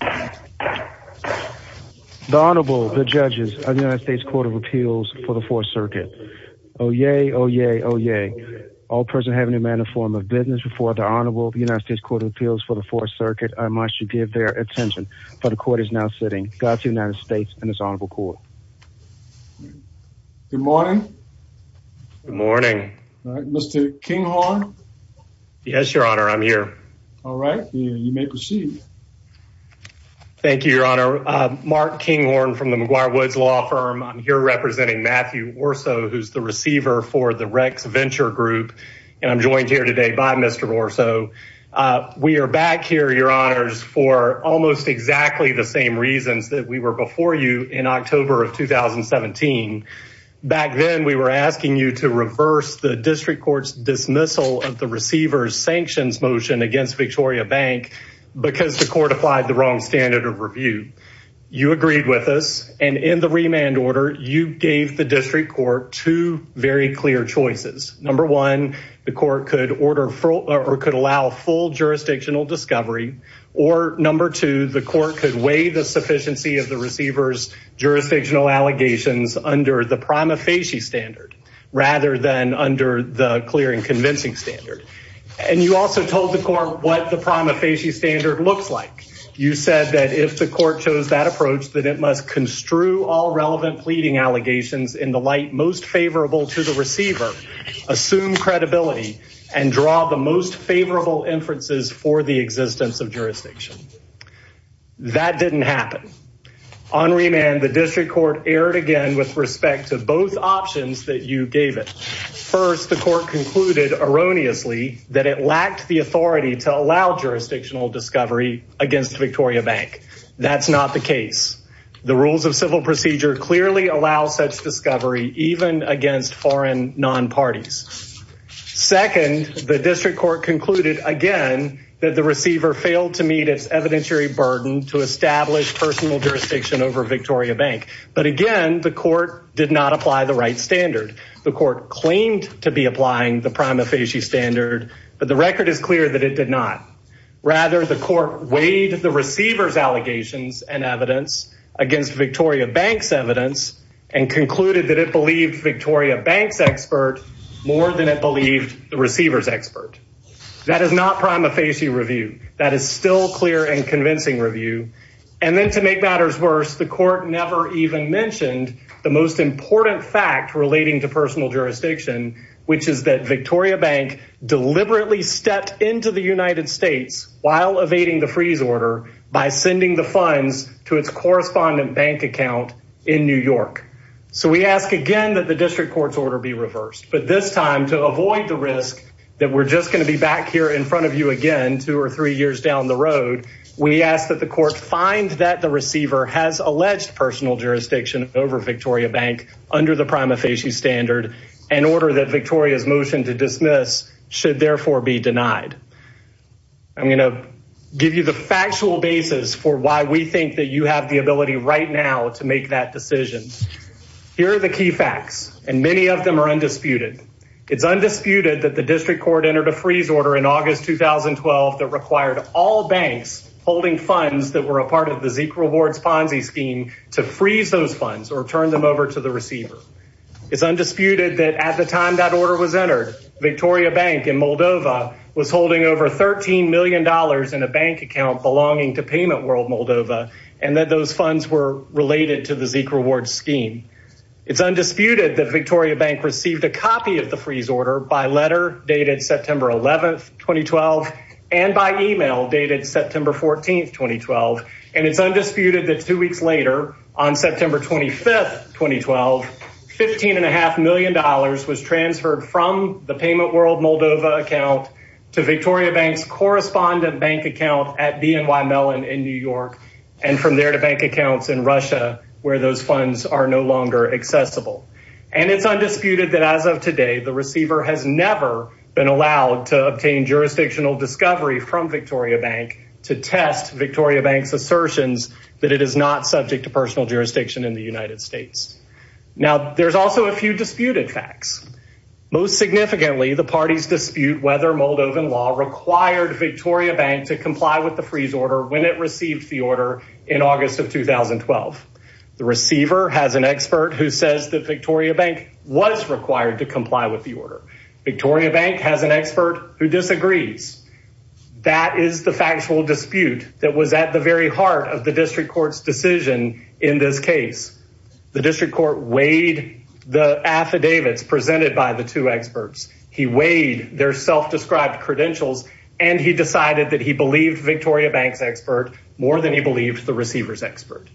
The Honorable, the Judges of the United States Court of Appeals for the Fourth Circuit. Oh, yay, oh, yay, oh, yay. All present having a manner of business before the Honorable United States Court of Appeals for the Fourth Circuit, I must give their attention, for the Court is now sitting. Godspeed to the United States and this Honorable Court. Good morning. Good morning. Mr. Kinghorn. Yes, Your Honor, I'm here. All right, you may proceed. Thank you, Your Honor. Mark Kinghorn from the McGuire Woods Law Firm. I'm here representing Matthew Orso, who's the receiver for the Rex Venture Group. And I'm joined here today by Mr. Orso. We are back here, Your Honors, for almost exactly the same reasons that we were before you in October of 2017. Back then, we were asking you to reverse the District Court's dismissal of the receiver's sanctions motion against Victoriabank because the Court applied the wrong standard of review. You agreed with us, and in the remand order, you gave the District Court two very clear choices. Number one, the Court could order or could allow full jurisdictional discovery. Or number two, the Court could weigh the sufficiency of the receiver's jurisdictional allegations under the prima facie standard rather than under the clear and convincing standard. And you also told the Court what the prima facie standard looks like. You said that if the Court chose that approach, that it must construe all relevant pleading allegations in the light most favorable to the receiver, assume credibility, and draw the most favorable inferences for the existence of jurisdiction. That didn't happen. On remand, the District Court erred again with respect to both options that you gave it. First, the Court concluded erroneously that it lacked the authority to allow jurisdictional discovery against Victoriabank. That's not the case. The rules of civil procedure clearly allow such discovery even against foreign non-parties. Second, the District Court concluded again that the receiver failed to meet its evidentiary burden to establish personal jurisdiction over Victoriabank. But again, the Court did not apply the right standard. The Court claimed to be applying the prima facie standard, but the record is clear that it did not. Rather, the Court weighed the receiver's allegations and evidence against Victoriabank's evidence and concluded that it believed Victoriabank's expert more than it believed the receiver's expert. That is not prima facie review. That is still clear and convincing review. And then to make matters worse, the Court never even mentioned the most important fact relating to personal jurisdiction, which is that Victoriabank deliberately stepped into the United States while evading the freeze order by sending the funds to its correspondent bank account in New York. So we ask again that the District Court's order be reversed, but this time to avoid the risk that we're just going to be back here in front of you again two or three years down the road, we ask that the Court find that the receiver has alleged personal jurisdiction over Victoriabank under the prima facie standard and order that Victoria's motion to dismiss should therefore be denied. I'm going to give you the factual basis for why we think that you have the ability right now to make that decision. Here are the key facts, and many of them are undisputed. It's undisputed that the District Court entered a freeze order in August 2012 that required all banks holding funds that were a part of the Zika Rewards Ponzi scheme to freeze those funds or turn them over to the receiver. It's undisputed that at the time that order was entered, Victoriabank in Moldova was holding over $13 million in a bank account belonging to Payment World Moldova, and that those funds were related to the Zika Rewards scheme. It's undisputed that Victoriabank received a copy of the freeze order by letter dated September 11, 2012, and by email dated September 14, 2012. And it's undisputed that two weeks later, on September 25, 2012, $15.5 million was transferred from the Payment World Moldova account to Victoriabank's correspondent bank account at BNY Mellon in New York, and from there to bank accounts in Russia, where those funds are no longer accessible. And it's undisputed that as of today, the receiver has never been allowed to obtain jurisdictional discovery from Victoriabank to test Victoriabank's assertions that it is not subject to personal jurisdiction in the United States. Now, there's also a few disputed facts. Most significantly, the parties dispute whether Moldovan law required Victoriabank to comply with the freeze order when it received the order in August of 2012. The receiver has an expert who says that Victoriabank was required to comply with the order. Victoriabank has an expert who disagrees. That is the factual dispute that was at the very heart of the district court's decision in this case. The district court weighed the affidavits presented by the two experts. He weighed their self-described credentials, and he decided that he believed Victoriabank's expert more than he believed the receiver's expert.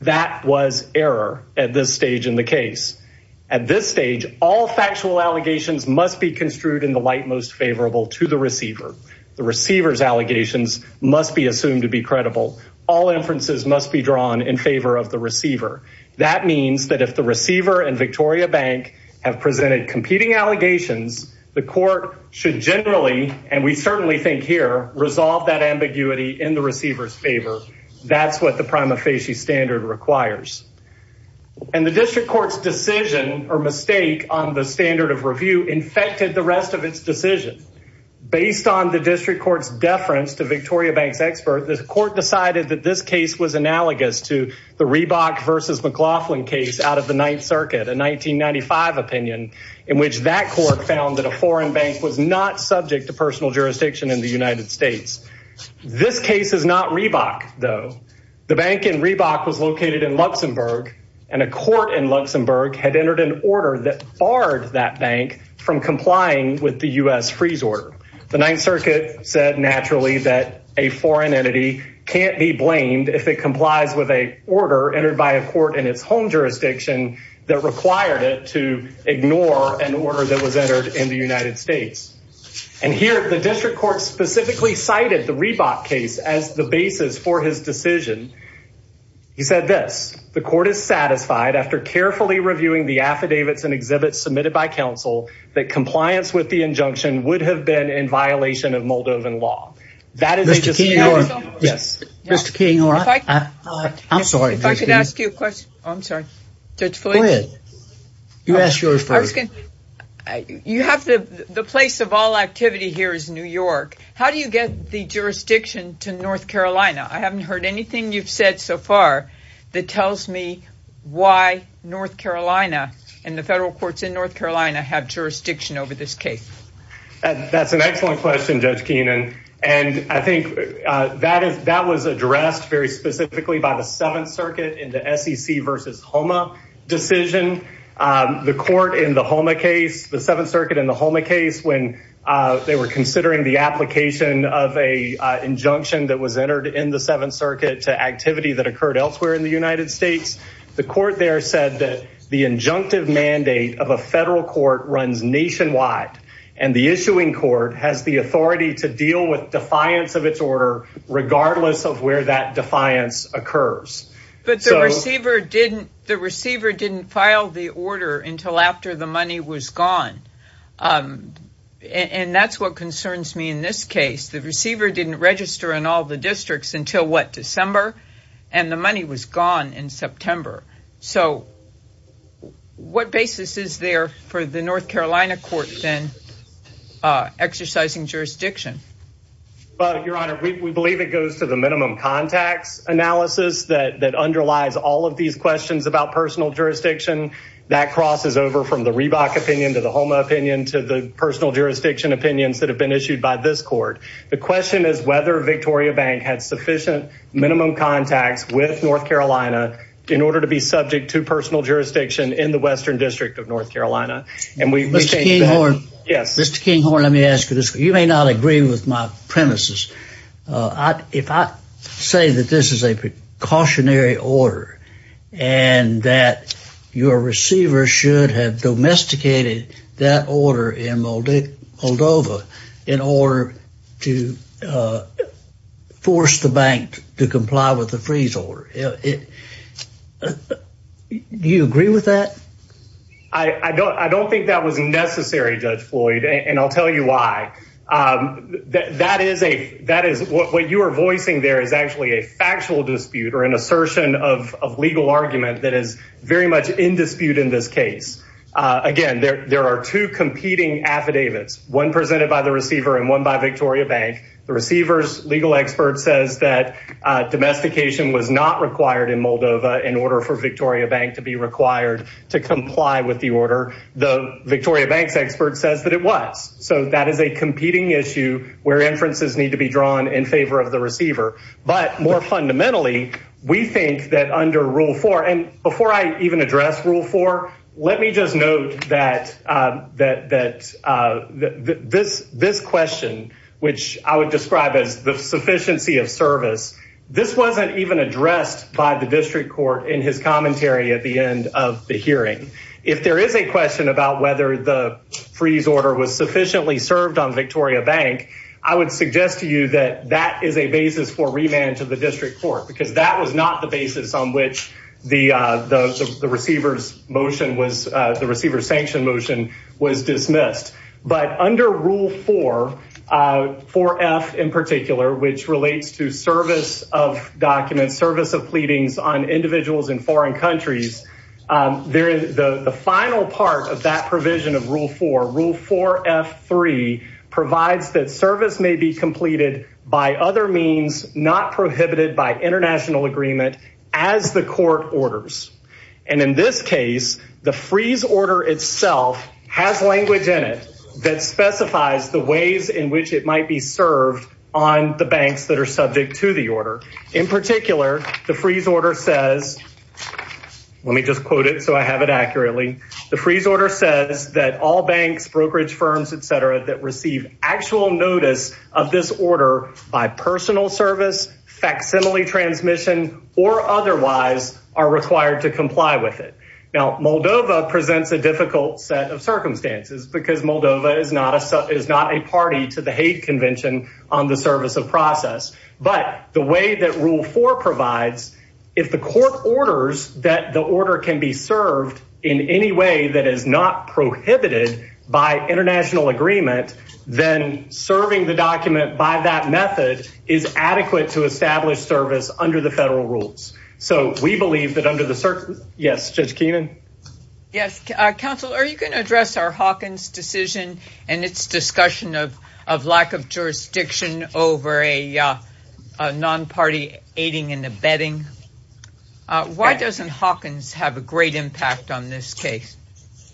That was error at this stage in the case. At this stage, all factual allegations must be construed in the light most favorable to the receiver. The receiver's allegations must be assumed to be credible. All inferences must be drawn in favor of the receiver. That means that if the receiver and Victoriabank have presented competing allegations, the court should generally, and we certainly think here, resolve that ambiguity in the receiver's favor. That's what the prima facie standard requires. And the district court's decision or mistake on the standard of review infected the rest of its decision. Based on the district court's deference to Victoriabank's expert, the court decided that this case was analogous to the Reebok versus McLaughlin case out of the Ninth Circuit, a 1995 opinion in which that court found that a foreign bank was not subject to personal jurisdiction in the United States. This case is not Reebok, though. The bank in Reebok was located in Luxembourg, and a court in Luxembourg had entered an order that barred that bank from complying with the U.S. freeze order. The Ninth Circuit said naturally that a foreign entity can't be blamed if it complies with an order entered by a court in its home jurisdiction that required it to ignore an order that was entered in the United States. And here, the district court specifically cited the Reebok case as the basis for his decision. He said this. The court is satisfied after carefully reviewing the affidavits and exhibits submitted by counsel that compliance with the injunction would have been in violation of Moldovan law. Mr. King, yes. Mr. King, I'm sorry. If I could ask you a question. I'm sorry. Go ahead. You ask yours first. You have the place of all activity here is New York. How do you get the jurisdiction to North Carolina? I haven't heard anything you've said so far that tells me why North Carolina and the federal courts in North Carolina have jurisdiction over this case. That's an excellent question, Judge Keenan. And I think that was addressed very specifically by the Seventh Circuit in the SEC versus HOMA decision. The court in the HOMA case, the Seventh Circuit in the HOMA case, when they were considering the application of an injunction that was entered in the Seventh Circuit to activity that occurred elsewhere in the United States, the court there said that the injunctive mandate of a federal court runs nationwide and the issuing court has the authority to deal with defiance of its order regardless of where that defiance occurs. But the receiver didn't file the order until after the money was gone. And that's what concerns me in this case. The receiver didn't register in all the districts until, what, December? And the money was gone in September. So what basis is there for the North Carolina court then exercising jurisdiction? Your Honor, we believe it goes to the minimum contacts analysis that underlies all of these questions about personal jurisdiction. That crosses over from the Reebok opinion to the HOMA opinion to the personal jurisdiction opinions that have been issued by this court. The question is whether Victoria Bank had sufficient minimum contacts with North Carolina in order to be subject to personal jurisdiction in the Western District of North Carolina. Mr. Kinghorn, let me ask you this. You may not agree with my premises. If I say that this is a precautionary order and that your receiver should have domesticated that order in Moldova in order to force the bank to comply with the freeze order, do you agree with that? I don't think that was necessary, Judge Floyd, and I'll tell you why. What you are voicing there is actually a factual dispute or an assertion of legal argument that is very much in dispute in this case. Again, there are two competing affidavits, one presented by the receiver and one by Victoria Bank. The receiver's legal expert says that domestication was not required in Moldova in order for Victoria Bank to be required to comply with the order. The Victoria Bank's expert says that it was, so that is a competing issue where inferences need to be drawn in favor of the receiver. But more fundamentally, we think that under Rule 4, and before I even address Rule 4, let me just note that this question, which I would describe as the sufficiency of service, this wasn't even addressed by the district court in his commentary at the end of the hearing. If there is a question about whether the freeze order was sufficiently served on Victoria Bank, I would suggest to you that that is a basis for remand to the district court, because that was not the basis on which the receiver's motion was, the receiver's sanction motion was dismissed. But under Rule 4, 4F in particular, which relates to service of documents, service of pleadings on individuals in foreign countries, the final part of that provision of Rule 4, Rule 4F3, provides that service may be completed by other means, not prohibited by international agreement, as the court orders. And in this case, the freeze order itself has language in it that specifies the ways in which it might be served on the banks that are subject to the order. In particular, the freeze order says, let me just quote it so I have it accurately. The freeze order says that all banks, brokerage firms, etc., that receive actual notice of this order by personal service, facsimile transmission, or otherwise, are required to comply with it. Now, Moldova presents a difficult set of circumstances because Moldova is not a party to the Hague Convention on the Service of Process. But the way that Rule 4 provides, if the court orders that the order can be served in any way that is not prohibited by international agreement, then serving the document by that method is adequate to establish service under the federal rules. Yes, Judge Keenan? Yes, Counsel, are you going to address our Hawkins decision and its discussion of lack of jurisdiction over a non-party aiding and abetting? Why doesn't Hawkins have a great impact on this case?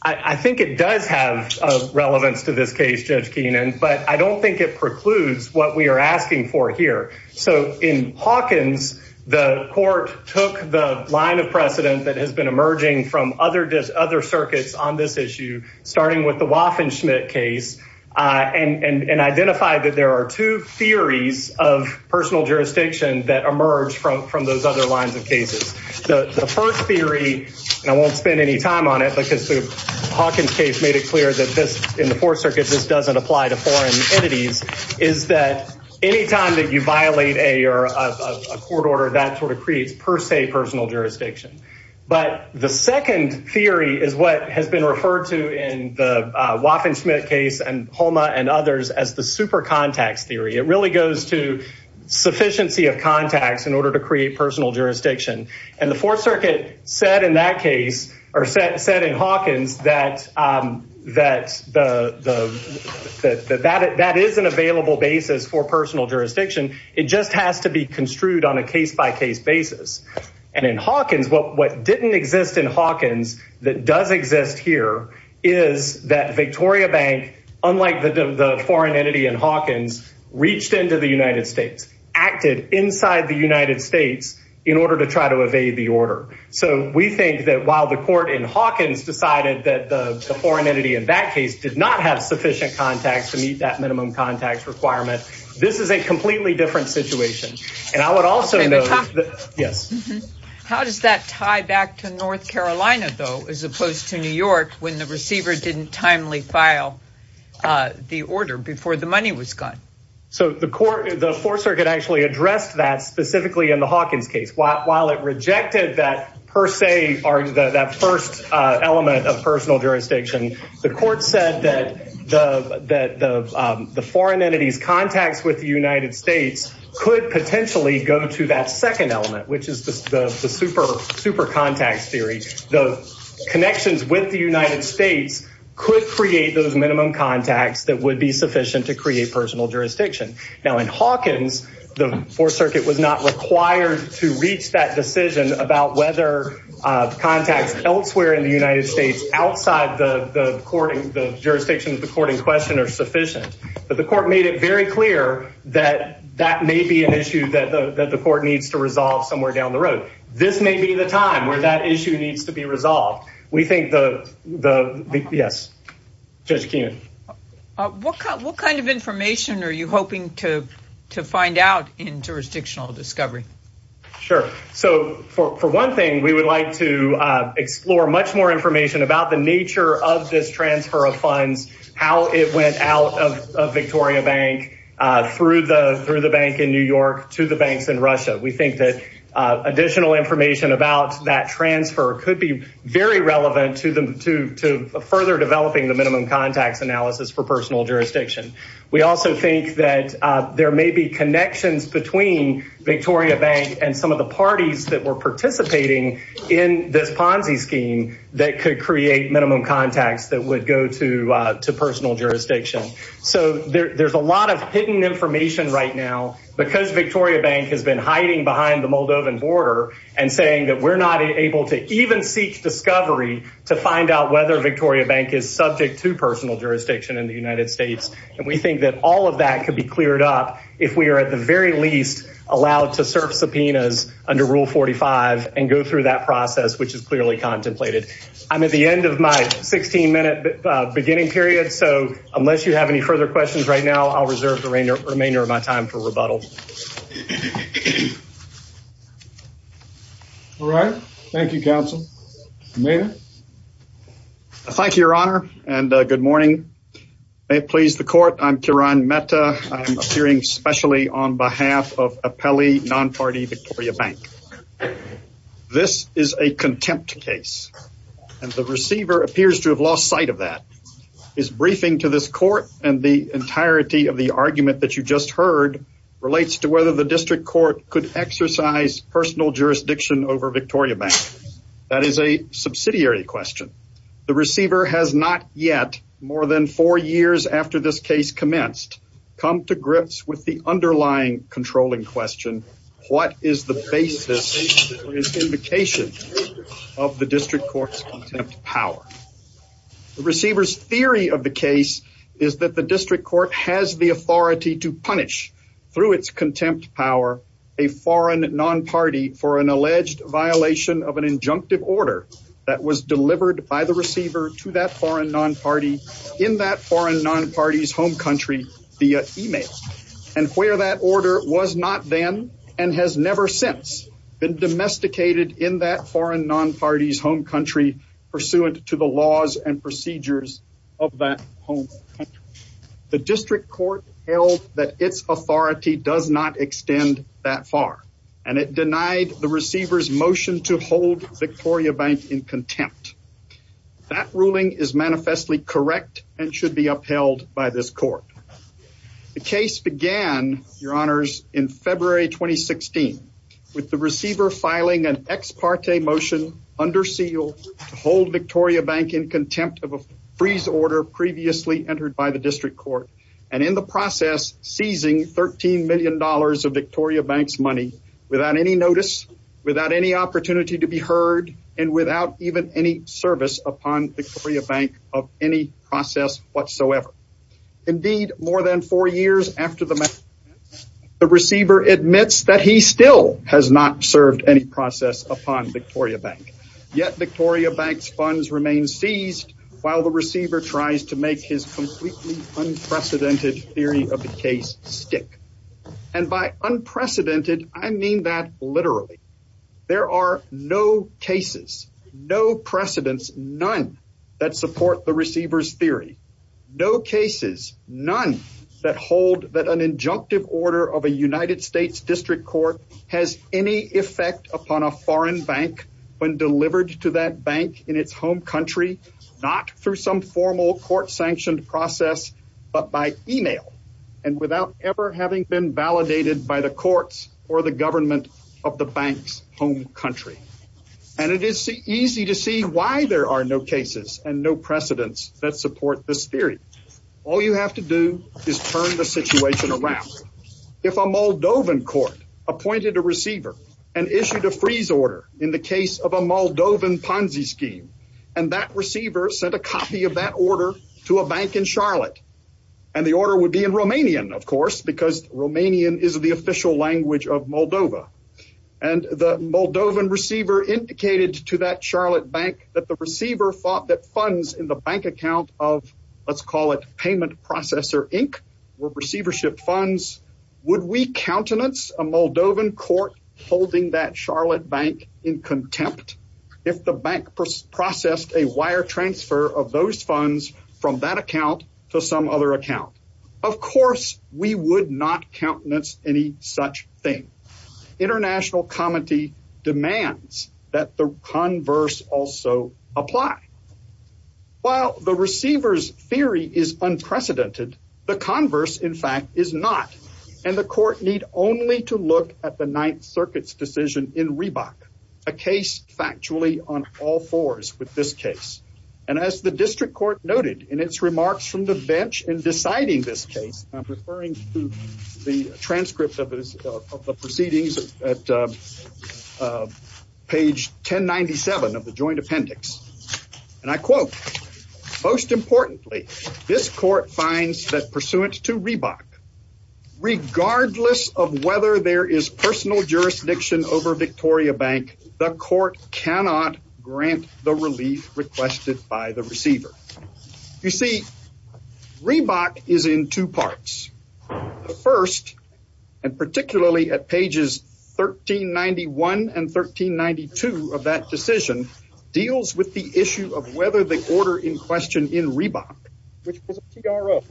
I think it does have relevance to this case, Judge Keenan, but I don't think it precludes what we are asking for here. So, in Hawkins, the court took the line of precedent that has been emerging from other circuits on this issue, starting with the Waffen-Schmidt case, and identified that there are two theories of personal jurisdiction that emerge from those other lines of cases. The first theory, and I won't spend any time on it because the Hawkins case made it clear that in the Fourth Circuit this doesn't apply to foreign entities, is that any time that you violate a court order that sort of creates per se personal jurisdiction. But the second theory is what has been referred to in the Waffen-Schmidt case and HOMA and others as the super contacts theory. It really goes to sufficiency of contacts in order to create personal jurisdiction. And the Fourth Circuit said in that case, or said in Hawkins, that that is an available basis for personal jurisdiction. It just has to be construed on a case-by-case basis. And in Hawkins, what didn't exist in Hawkins that does exist here is that Victoria Bank, unlike the foreign entity in Hawkins, reached into the United States, acted inside the United States in order to try to evade the order. So we think that while the court in Hawkins decided that the foreign entity in that case did not have sufficient contacts to meet that minimum contacts requirement, this is a completely different situation. And I would also note that – yes? How does that tie back to North Carolina, though, as opposed to New York when the receiver didn't timely file the order before the money was gone? So the court – the Fourth Circuit actually addressed that specifically in the Hawkins case. While it rejected that per se – that first element of personal jurisdiction, the court said that the foreign entity's contacts with the United States could potentially go to that second element, which is the super contacts theory. The connections with the United States could create those minimum contacts that would be sufficient to create personal jurisdiction. Now, in Hawkins, the Fourth Circuit was not required to reach that decision about whether contacts elsewhere in the United States outside the jurisdiction of the court in question are sufficient. But the court made it very clear that that may be an issue that the court needs to resolve somewhere down the road. This may be the time where that issue needs to be resolved. We think the – yes? Judge Keenan? What kind of information are you hoping to find out in jurisdictional discovery? Sure. So for one thing, we would like to explore much more information about the nature of this transfer of funds, how it went out of Victoria Bank through the bank in New York to the banks in Russia. We think that additional information about that transfer could be very relevant to further developing the minimum contacts analysis for personal jurisdiction. We also think that there may be connections between Victoria Bank and some of the parties that were participating in this Ponzi scheme that could create minimum contacts that would go to personal jurisdiction. So there's a lot of hidden information right now because Victoria Bank has been hiding behind the Moldovan border and saying that we're not able to even seek discovery to find out whether Victoria Bank is subject to personal jurisdiction in the United States. And we think that all of that could be cleared up if we are at the very least allowed to serve subpoenas under Rule 45 and go through that process, which is clearly contemplated. I'm at the end of my 16 minute beginning period. So unless you have any further questions right now, I'll reserve the remainder of my time for rebuttal. All right. Thank you, counsel. Mayor. Thank you, Your Honor. And good morning. May it please the court. I'm Kiran Mehta. I'm appearing specially on behalf of Apelli Non-Party Victoria Bank. This is a contempt case and the receiver appears to have lost sight of that. His briefing to this court and the entirety of the argument that you just heard relates to whether the district court could exercise personal jurisdiction over Victoria Bank. That is a subsidiary question. The receiver has not yet more than four years after this case commenced, come to grips with the underlying controlling question. What is the basis for this indication of the district court's power? The receiver's theory of the case is that the district court has the authority to punish through its contempt power, a foreign non-party for an alleged violation of an injunctive order that was delivered by the receiver to that foreign non-party in that foreign non-party's home country via e-mail. And where that order was not then and has never since been domesticated in that foreign non-party's home country pursuant to the laws and procedures of that home. The district court held that its authority does not extend that far, and it denied the receiver's motion to hold Victoria Bank in contempt. That ruling is manifestly correct and should be upheld by this court. The case began, your honors, in February 2016 with the receiver filing an ex parte motion under seal to hold Victoria Bank in contempt of a freeze order previously entered by the district court. And in the process, seizing $13 million of Victoria Bank's money without any notice, without any opportunity to be heard, and without even any service upon Victoria Bank of any process whatsoever. Indeed, more than four years after the matter, the receiver admits that he still has not served any process upon Victoria Bank. Yet Victoria Bank's funds remain seized while the receiver tries to make his completely unprecedented theory of the case stick. And by unprecedented, I mean that literally. There are no cases, no precedents, none that support the receiver's theory. No cases, none that hold that an injunctive order of a United States district court has any effect upon a foreign bank when delivered to that bank in its home country. Not through some formal court sanctioned process, but by email and without ever having been validated by the courts or the government of the bank's home country. And it is easy to see why there are no cases and no precedents that support this theory. All you have to do is turn the situation around. If a Moldovan court appointed a receiver and issued a freeze order in the case of a Moldovan Ponzi scheme, and that receiver sent a copy of that order to a bank in Charlotte. And the order would be in Romanian, of course, because Romanian is the official language of Moldova. And the Moldovan receiver indicated to that Charlotte bank that the receiver thought that funds in the bank account of, let's call it payment processor, Inc. were receivership funds. Would we countenance a Moldovan court holding that Charlotte bank in contempt if the bank processed a wire transfer of those funds from that account to some other account? Of course, we would not countenance any such thing. International comity demands that the converse also apply. While the receivers theory is unprecedented, the converse, in fact, is not. And the court need only to look at the Ninth Circuit's decision in Reebok, a case factually on all fours with this case. And as the district court noted in its remarks from the bench in deciding this case, I'm referring to the transcript of the proceedings at page 1097 of the joint appendix. And I quote, most importantly, this court finds that pursuant to Reebok, regardless of whether there is personal jurisdiction over Victoria Bank, the court cannot grant the relief requested by the receiver. You see, Reebok is in two parts. The first, and particularly at pages 1391 and 1392 of that decision, deals with the issue of whether the order in question in Reebok, which was a TRO,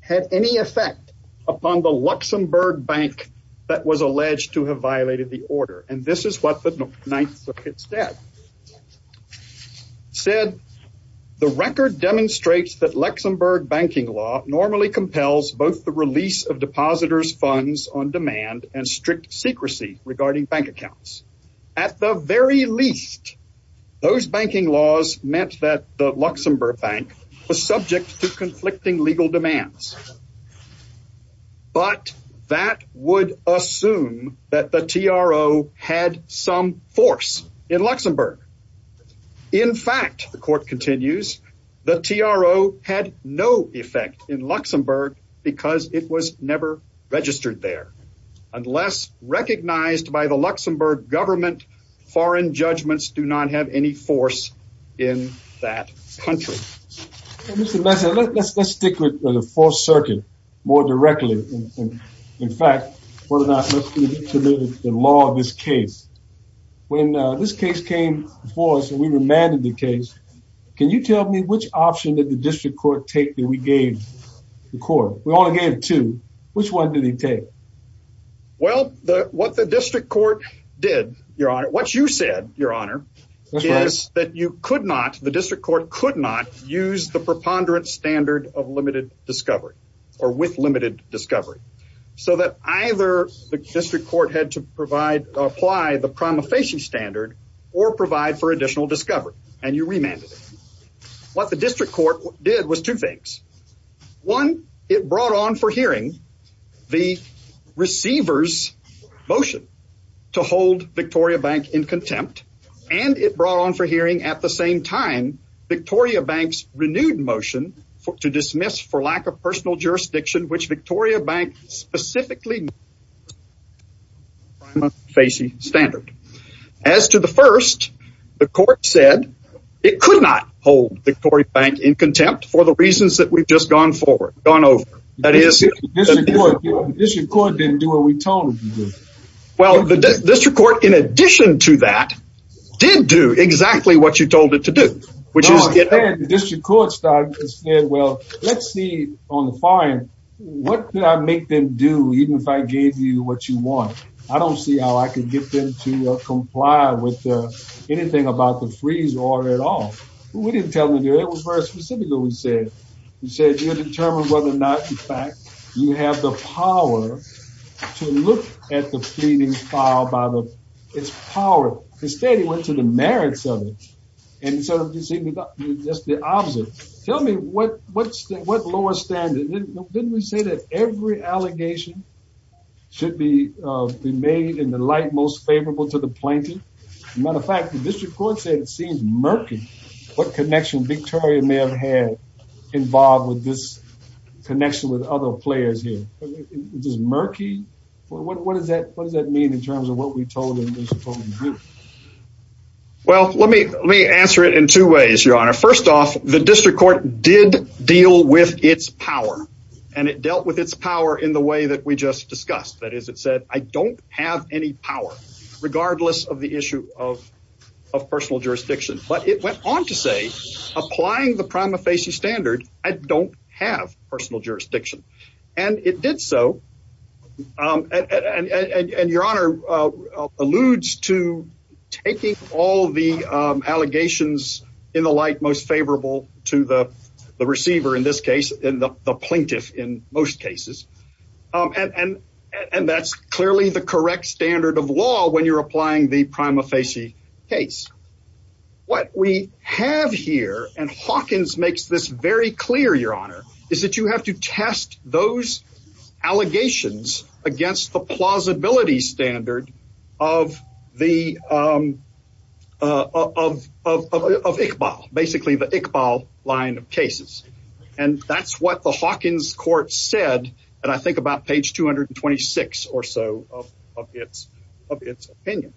had any effect upon the Luxembourg bank that was alleged to have violated the order. And this is what the Ninth Circuit said. It said, the record demonstrates that Luxembourg banking law normally compels both the release of depositors' funds on demand and strict secrecy regarding bank accounts. At the very least, those banking laws meant that the Luxembourg bank was subject to conflicting legal demands. But that would assume that the TRO had some force in Luxembourg. In fact, the court continues, the TRO had no effect in Luxembourg because it was never registered there. Unless recognized by the Luxembourg government, foreign judgments do not have any force in that country. Mr. Messer, let's stick with the Fourth Circuit more directly. In fact, whether or not the law of this case. When this case came before us and we remanded the case, can you tell me which option did the district court take that we gave the court? We only gave two. Which one did he take? Well, what the district court did, Your Honor. What you said, Your Honor, is that you could not, the district court could not use the preponderance standard of limited discovery or with limited discovery. So that either the district court had to provide, apply the prima facie standard or provide for additional discovery. And you remanded it. What the district court did was two things. One, it brought on for hearing the receiver's motion to hold Victoria Bank in contempt. And it brought on for hearing at the same time, Victoria Bank's renewed motion to dismiss for lack of personal jurisdiction, which Victoria Bank specifically. Prima facie standard. As to the first, the court said it could not hold Victoria Bank in contempt for the reasons that we've just gone forward, gone over. District court didn't do what we told them to do. Well, the district court, in addition to that, did do exactly what you told it to do. The district court started and said, well, let's see on the far end. What did I make them do, even if I gave you what you want? I don't see how I can get them to comply with anything about the freeze order at all. We didn't tell them to do it. It was very specific what we said. We said, you're determined whether or not, in fact, you have the power to look at the pleadings filed by the, it's power. The state went to the merits of it. And so you see just the opposite. Tell me what, what's the, what lower standard? Didn't we say that every allegation should be made in the light most favorable to the plaintiff? Matter of fact, the district court said it seems murky. What connection Victoria may have had involved with this connection with other players here? What does that mean in terms of what we told them? Well, let me let me answer it in two ways, your honor. First off, the district court did deal with its power and it dealt with its power in the way that we just discussed. That is, it said, I don't have any power regardless of the issue of of personal jurisdiction. But it went on to say, applying the prima facie standard, I don't have personal jurisdiction. And it did so. And your honor alludes to taking all the allegations in the light most favorable to the receiver. In this case, the plaintiff in most cases. And that's clearly the correct standard of law when you're applying the prima facie case. What we have here and Hawkins makes this very clear, your honor, is that you have to test those allegations against the plausibility standard of the. Of of of of Iqbal, basically the Iqbal line of cases. And that's what the Hawkins court said. And I think about page 226 or so of its of its opinion.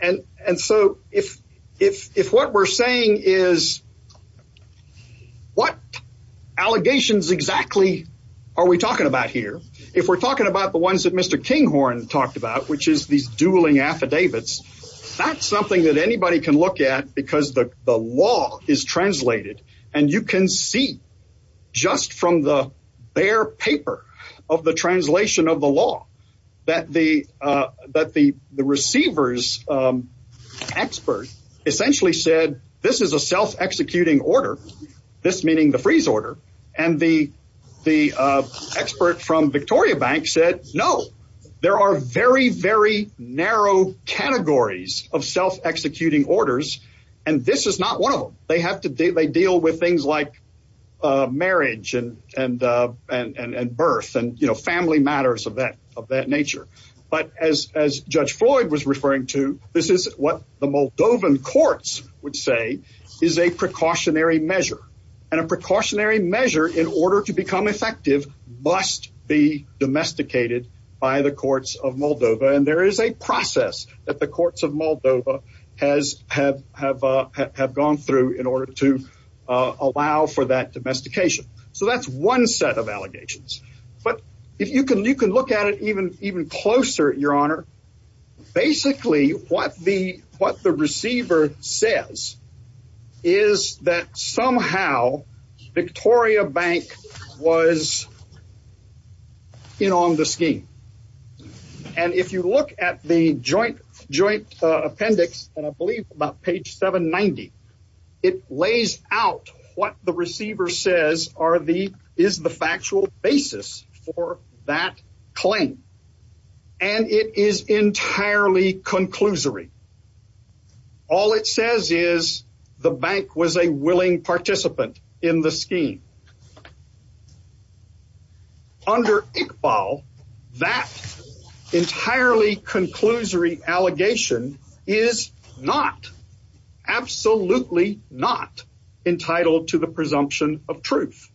And and so if if if what we're saying is. What allegations exactly are we talking about here? If we're talking about the ones that Mr. Kinghorn talked about, which is these dueling affidavits, that's something that anybody can look at because the law is translated. And you can see just from the bare paper of the translation of the law that the that the the receivers expert essentially said this is a self executing order. This meaning the freeze order. And the the expert from Victoria Bank said, no, there are very, very narrow categories of self executing orders. And this is not one of them. They have to do they deal with things like marriage and and and birth and, you know, family matters of that of that nature. But as as Judge Floyd was referring to, this is what the Moldovan courts would say is a precautionary measure and a precautionary measure in order to become effective must be domesticated by the courts of Moldova. And there is a process that the courts of Moldova has have have have gone through in order to allow for that domestication. So that's one set of allegations. But if you can, you can look at it even even closer, Your Honor. Basically, what the what the receiver says is that somehow Victoria Bank was in on the scheme. And if you look at the joint joint appendix, and I believe about page 790, it lays out what the receiver says are the is the factual basis for that claim. And it is entirely conclusory. All it says is the bank was a willing participant in the scheme. Under Iqbal, that entirely conclusory allegation is not absolutely not entitled to the presumption of truth.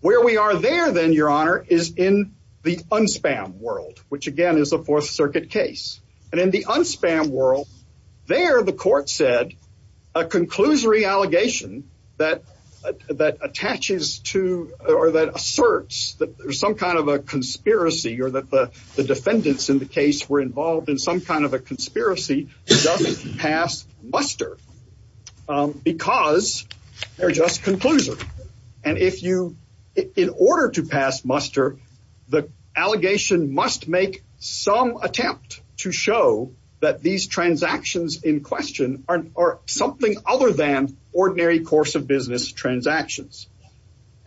Where we are there, then, Your Honor, is in the unspam world, which again is a Fourth Circuit case. And in the unspam world there, the court said a conclusory allegation that that attaches to or that asserts that there's some kind of a conspiracy or that the defendants in the case were involved in some kind of a conspiracy doesn't pass muster because they're just conclusive. And if you in order to pass muster, the allegation must make some attempt to show that these transactions in question are something other than ordinary course of business transactions.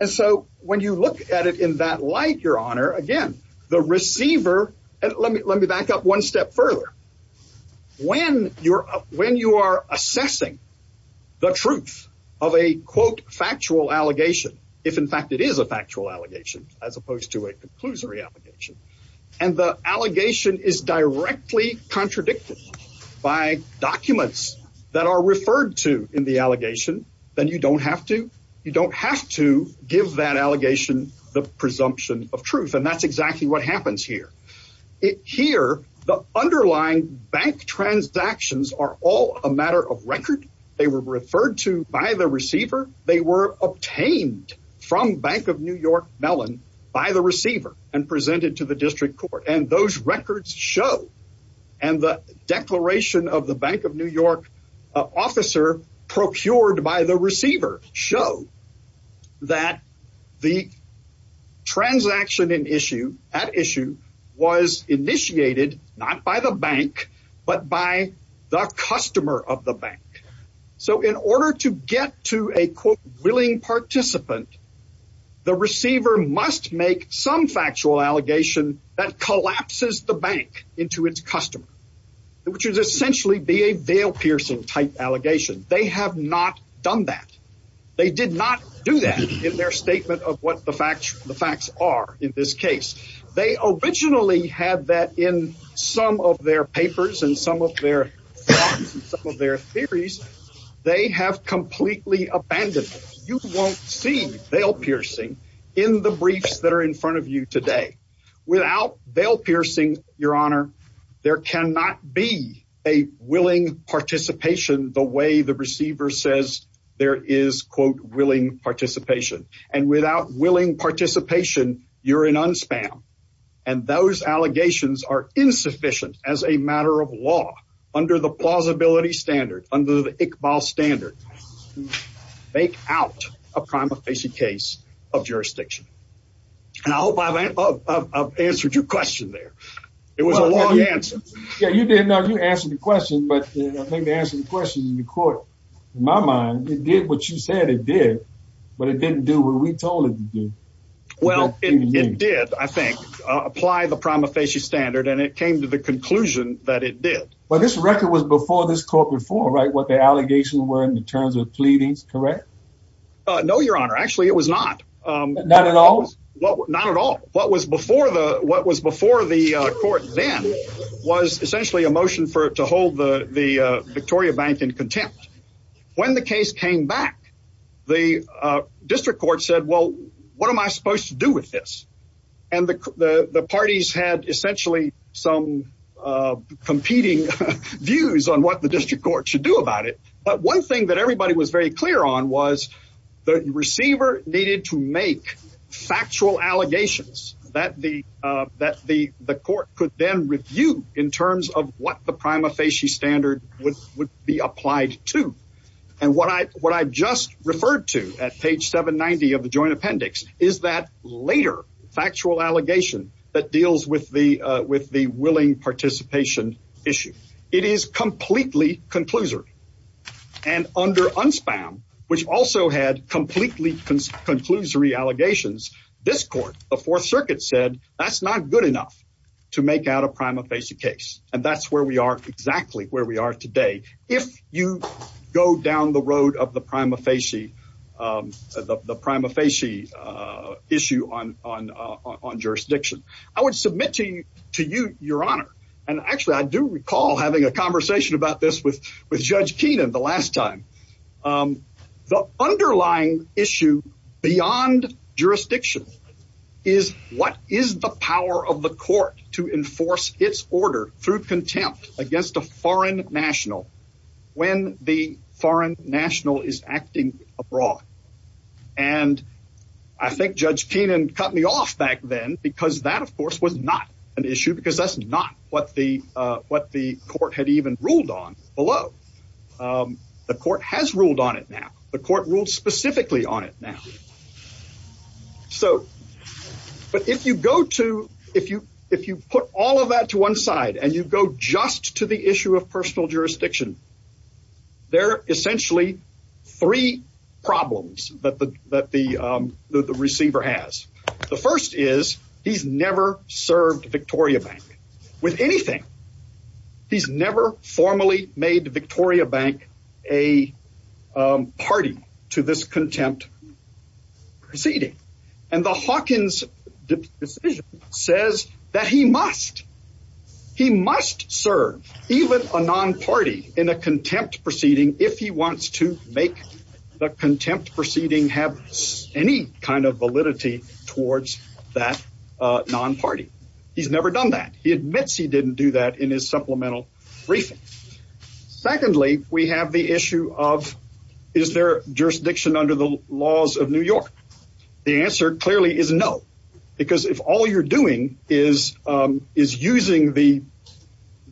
And so when you look at it in that light, Your Honor, again, the receiver and let me let me back up one step further. When you're when you are assessing the truth of a quote factual allegation, if in fact it is a factual allegation as opposed to a conclusory application and the allegation is directly contradicted by documents that are referred to in the allegation, then you don't have to. You don't have to give that allegation the presumption of truth. And that's exactly what happens here. Here, the underlying bank transactions are all a matter of record. They were referred to by the receiver. They were obtained from Bank of New York Mellon by the receiver and presented to the district court. And those records show and the declaration of the Bank of New York officer procured by the receiver show that the transaction in issue at issue was initiated not by the bank, but by the customer of the bank. So in order to get to a quote willing participant, the receiver must make some factual allegation that collapses the bank into its customer, which is essentially be a veil piercing type allegation. They have not done that. They did not do that in their statement of what the facts the facts are. In this case, they originally had that in some of their papers and some of their their theories. They have completely abandoned. You won't see bail piercing in the briefs that are in front of you today without bail piercing. Your Honor, there cannot be a willing participation the way the receiver says there is, quote, willing participation. And without willing participation, you're in unspam. And those allegations are insufficient as a matter of law under the plausibility standard under the Iqbal standard. Make out a prima facie case of jurisdiction. And I hope I've answered your question there. It was a long answer. Yeah, you did. Now you answer the question. But I think the answer to the question in the court, in my mind, it did what you said it did. But it didn't do what we told it to do. Well, it did, I think, apply the prima facie standard. And it came to the conclusion that it did. Well, this record was before this court before. Right. What the allegations were in terms of pleadings. Correct. No, Your Honor. Actually, it was not. Not at all. Not at all. What was before the what was before the court then was essentially a motion for it to hold the Victoria Bank in contempt. When the case came back, the district court said, well, what am I supposed to do with this? And the parties had essentially some competing views on what the district court should do about it. But one thing that everybody was very clear on was the receiver needed to make factual allegations that the that the the court could then review in terms of what the prima facie standard would would be applied to. And what I what I just referred to at page 790 of the joint appendix is that later factual allegation that deals with the with the willing participation issue. It is completely conclusory. And under unspam, which also had completely conclusive allegations, this court, the Fourth Circuit, said that's not good enough to make out a prima facie case. And that's where we are exactly where we are today. If you go down the road of the prima facie, the prima facie issue on on on jurisdiction, I would submit to you to you your honor. And actually, I do recall having a conversation about this with with Judge Keenan the last time. The underlying issue beyond jurisdiction is what is the power of the court to enforce its order through contempt against a foreign national when the foreign national is acting abroad? And I think Judge Keenan cut me off back then because that, of course, was not an issue, because that's not what the what the court had even ruled on below. The court has ruled on it now. The court ruled specifically on it now. So, but if you go to if you if you put all of that to one side and you go just to the issue of personal jurisdiction. There are essentially three problems that the that the receiver has. The first is he's never served Victoria Bank with anything. He's never formally made Victoria Bank a party to this contempt proceeding. And the Hawkins decision says that he must he must serve even a non party in a contempt proceeding if he wants to make the contempt proceeding have any kind of validity towards that non party. He's never done that. He admits he didn't do that in his supplemental briefings. Secondly, we have the issue of is there jurisdiction under the laws of New York? The answer clearly is no, because if all you're doing is is using the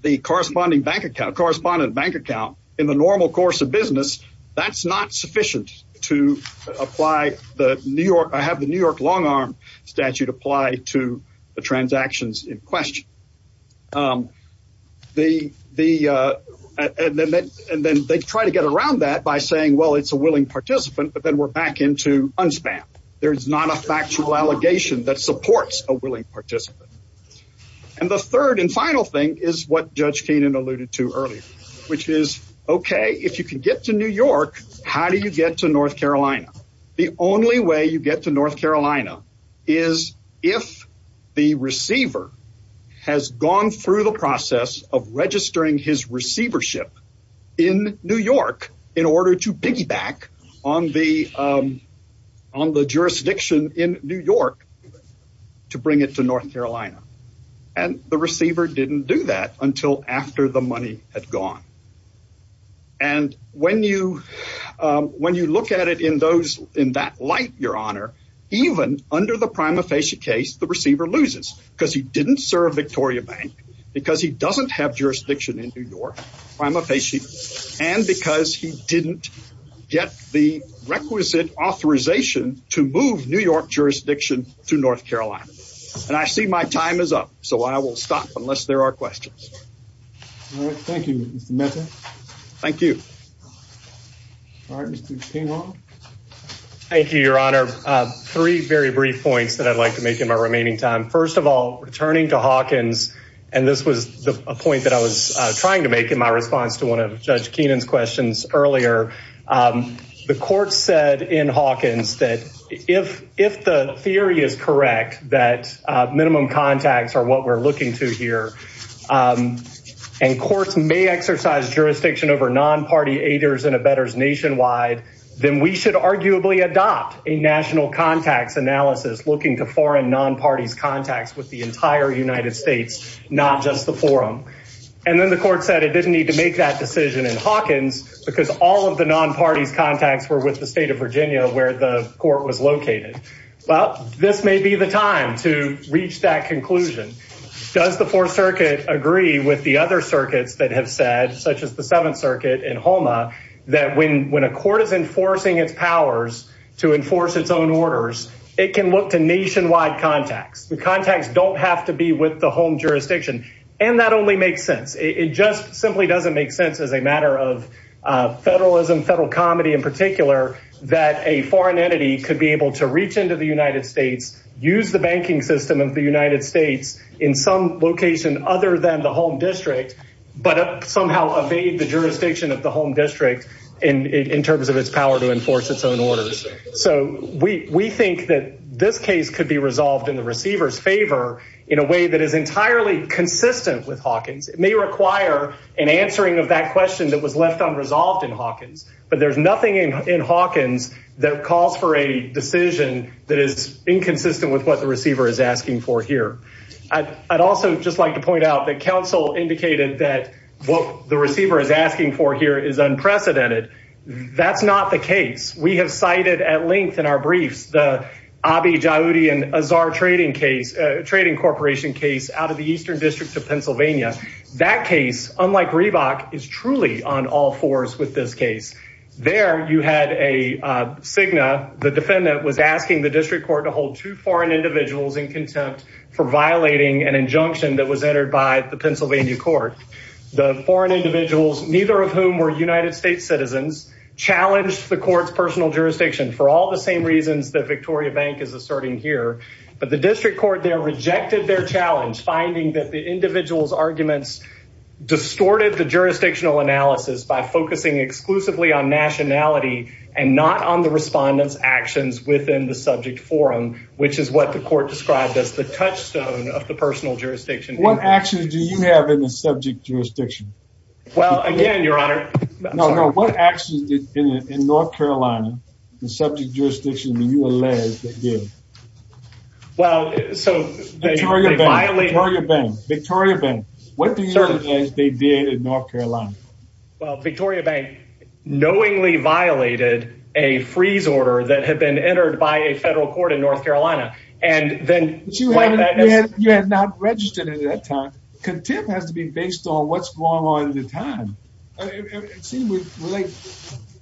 the corresponding bank account correspondent bank account in the normal course of business. That's not sufficient to apply the New York. I have the New York long arm statute apply to the transactions in question. The the and then they try to get around that by saying, well, it's a willing participant, but then we're back into unspam. There is not a factual allegation that supports a willing participant. And the third and final thing is what Judge Keenan alluded to earlier, which is OK, if you can get to New York, how do you get to North Carolina? The only way you get to North Carolina is if the receiver has gone through the process of registering his receivership in New York in order to piggyback on the on the jurisdiction in New York to bring it to North Carolina. And the receiver didn't do that until after the money had gone. And when you when you look at it in those in that light, your honor, even under the prima facie case, the receiver loses because he didn't serve Victoria Bank, because he doesn't have jurisdiction in New York. I'm a patient and because he didn't get the requisite authorization to move New York jurisdiction to North Carolina. And I see my time is up. So I will stop unless there are questions. Thank you. Thank you. All right. Thank you, Your Honor. Three very brief points that I'd like to make in my remaining time. First of all, returning to Hawkins, and this was a point that I was trying to make in my response to one of Judge Keenan's questions earlier. The court said in Hawkins that if if the theory is correct, that minimum contacts are what we're looking to here and courts may exercise jurisdiction over non-party aiders and abettors nationwide, then we should arguably adopt a national contacts analysis looking to foreign non-parties contacts with the entire United States, not just the forum. And then the court said it didn't need to make that decision in Hawkins because all of the non-parties contacts were with the state of Virginia, where the court was located. Well, this may be the time to reach that conclusion. Does the Fourth Circuit agree with the other circuits that have said, such as the Seventh Circuit in Houma, that when when a court is enforcing its powers to enforce its own orders, it can look to nationwide contacts. The contacts don't have to be with the home jurisdiction. And that only makes sense. It just simply doesn't make sense as a matter of federalism, federal comedy in particular, that a foreign entity could be able to reach into the United States, use the banking system of the United States in some location other than the home district, but somehow evade the jurisdiction of the home district in terms of its power to enforce its own orders. So we think that this case could be resolved in the receiver's favor in a way that is entirely consistent with Hawkins. It may require an answering of that question that was left unresolved in Hawkins. But there's nothing in Hawkins that calls for a decision that is inconsistent with what the receiver is asking for here. I'd also just like to point out that counsel indicated that what the receiver is asking for here is unprecedented. That's not the case. We have cited at length in our briefs the Abiy Joudi and Azhar trading case, trading corporation case out of the Eastern District of Pennsylvania. That case, unlike Reebok, is truly on all fours with this case. There you had a Cigna. The defendant was asking the district court to hold two foreign individuals in contempt for violating an injunction that was entered by the Pennsylvania court. The foreign individuals, neither of whom were United States citizens, challenged the court's personal jurisdiction for all the same reasons that Victoria Bank is asserting here. But the district court there rejected their challenge, finding that the individual's arguments distorted the jurisdictional analysis by focusing exclusively on nationality and not on the respondent's actions within the subject forum, which is what the court described as the touchstone of the personal jurisdiction. What actions do you have in the subject jurisdiction? Well, again, Your Honor. No, no. What actions did, in North Carolina, the subject jurisdiction, the ULAs, they give? Well, so they violate... Victoria Bank. Victoria Bank. What do you think they did in North Carolina? Well, Victoria Bank knowingly violated a freeze order that had been entered by a federal court in North Carolina. But you had not registered at that time. Contempt has to be based on what's going on at the time. It seems like,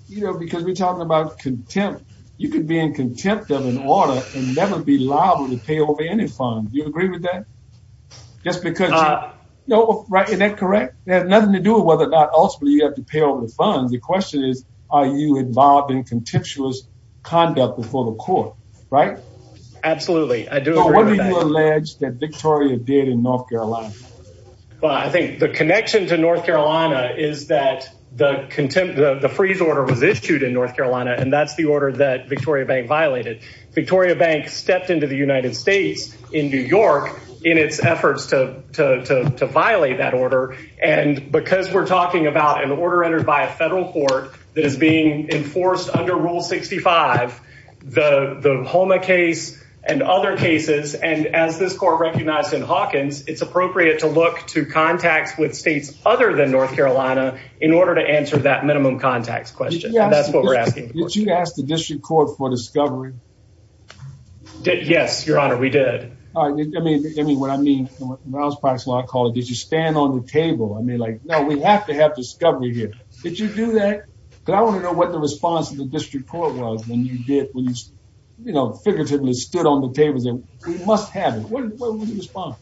you know, because we're talking about contempt, you could be in contempt of an order and never be liable to pay over any funds. Do you agree with that? Just because... No. Right. Is that correct? It has nothing to do with whether or not ultimately you have to pay over the funds. The question is, are you involved in contemptuous conduct before the court, right? Absolutely. I do agree with that. What did you allege that Victoria did in North Carolina? Well, I think the connection to North Carolina is that the contempt, the freeze order was issued in North Carolina, and that's the order that Victoria Bank violated. Victoria Bank stepped into the United States in New York in its efforts to violate that order. And because we're talking about an order entered by a federal court that is being enforced under Rule 65, the Homa case and other cases, and as this court recognized in Hawkins, it's appropriate to look to contacts with states other than North Carolina in order to answer that minimum contacts question. That's what we're asking. Did you ask the district court for discovery? Yes, Your Honor, we did. I mean, what I mean, when I was practicing law, I called it, did you stand on the table? I mean, like, no, we have to have discovery here. Did you do that? Because I want to know what the response of the district court was when you did, when you, you know, figuratively stood on the tables and we must have it. What was the response?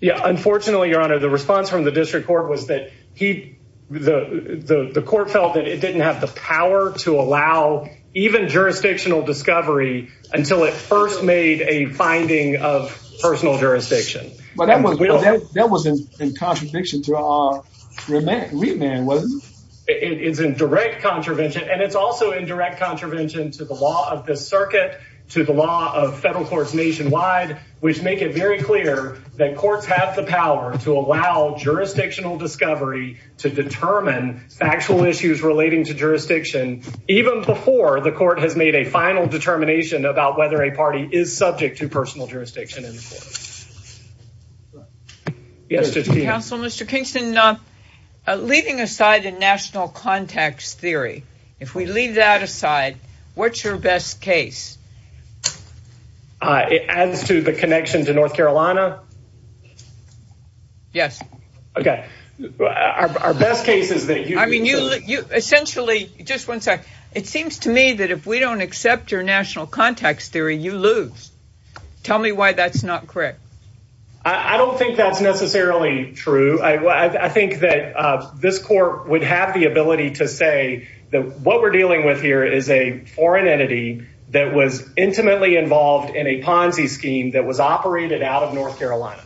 Yeah, unfortunately, Your Honor, the response from the district court was that he, the court felt that it didn't have the power to allow even jurisdictional discovery until it first made a finding of personal jurisdiction. But that was in contradiction to our remand, wasn't it? It is in direct contravention, and it's also in direct contravention to the law of the circuit, to the law of federal courts nationwide, which make it very clear that courts have the power to allow jurisdictional discovery to determine factual issues relating to jurisdiction, even before the court has made a final determination about whether a party is subject to personal jurisdiction. Mr. Kingston, leaving aside the national context theory, if we leave that aside, what's your best case? It adds to the connection to North Carolina. Yes. Okay. Our best case is that you. Essentially, just one sec. It seems to me that if we don't accept your national context theory, you lose. Tell me why that's not correct. I don't think that's necessarily true. I think that this court would have the ability to say that what we're dealing with here is a foreign entity that was intimately involved in a Ponzi scheme that was operated out of North Carolina,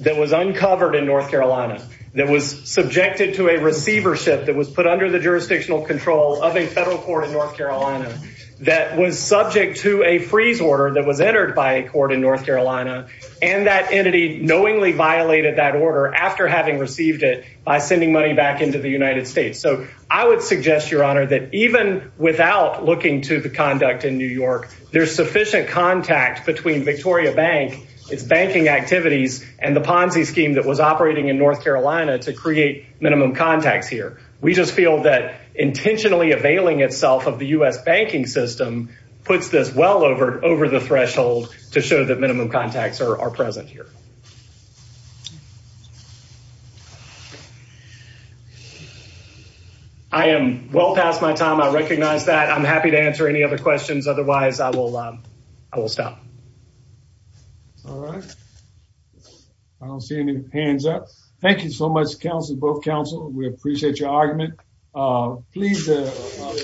that was uncovered in North Carolina, that was subjected to a receivership that was put under the jurisdictional control of a federal court in North Carolina, that was subject to a freeze order that was entered by a court in North Carolina. And that entity knowingly violated that order after having received it by sending money back into the United States. So I would suggest, Your Honor, that even without looking to the conduct in New York, there's sufficient contact between Victoria Bank, its banking activities and the Ponzi scheme that was operating in North Carolina to create minimum contacts here. We just feel that intentionally availing itself of the U.S. banking system puts this well over the threshold to show that minimum contacts are present here. I am well past my time. I recognize that. I'm happy to answer any other questions. Otherwise, I will stop. All right. I don't see any hands up. Thank you so much, counsel, both counsel. We appreciate your argument. Please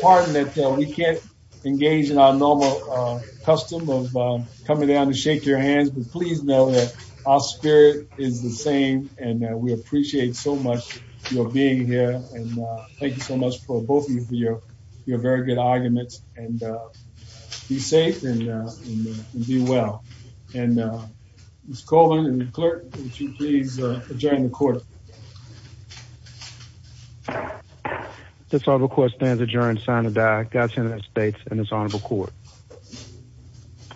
pardon that we can't engage in our normal custom of coming down to shake your hands. But please know that our spirit is the same and we appreciate so much your being here. And thank you so much for both of you for your very good arguments. And be safe and be well. And Ms. Coleman and the clerk, would you please adjourn the court? This all request stands adjourned. Signed by Godsend of the States and this honorable court.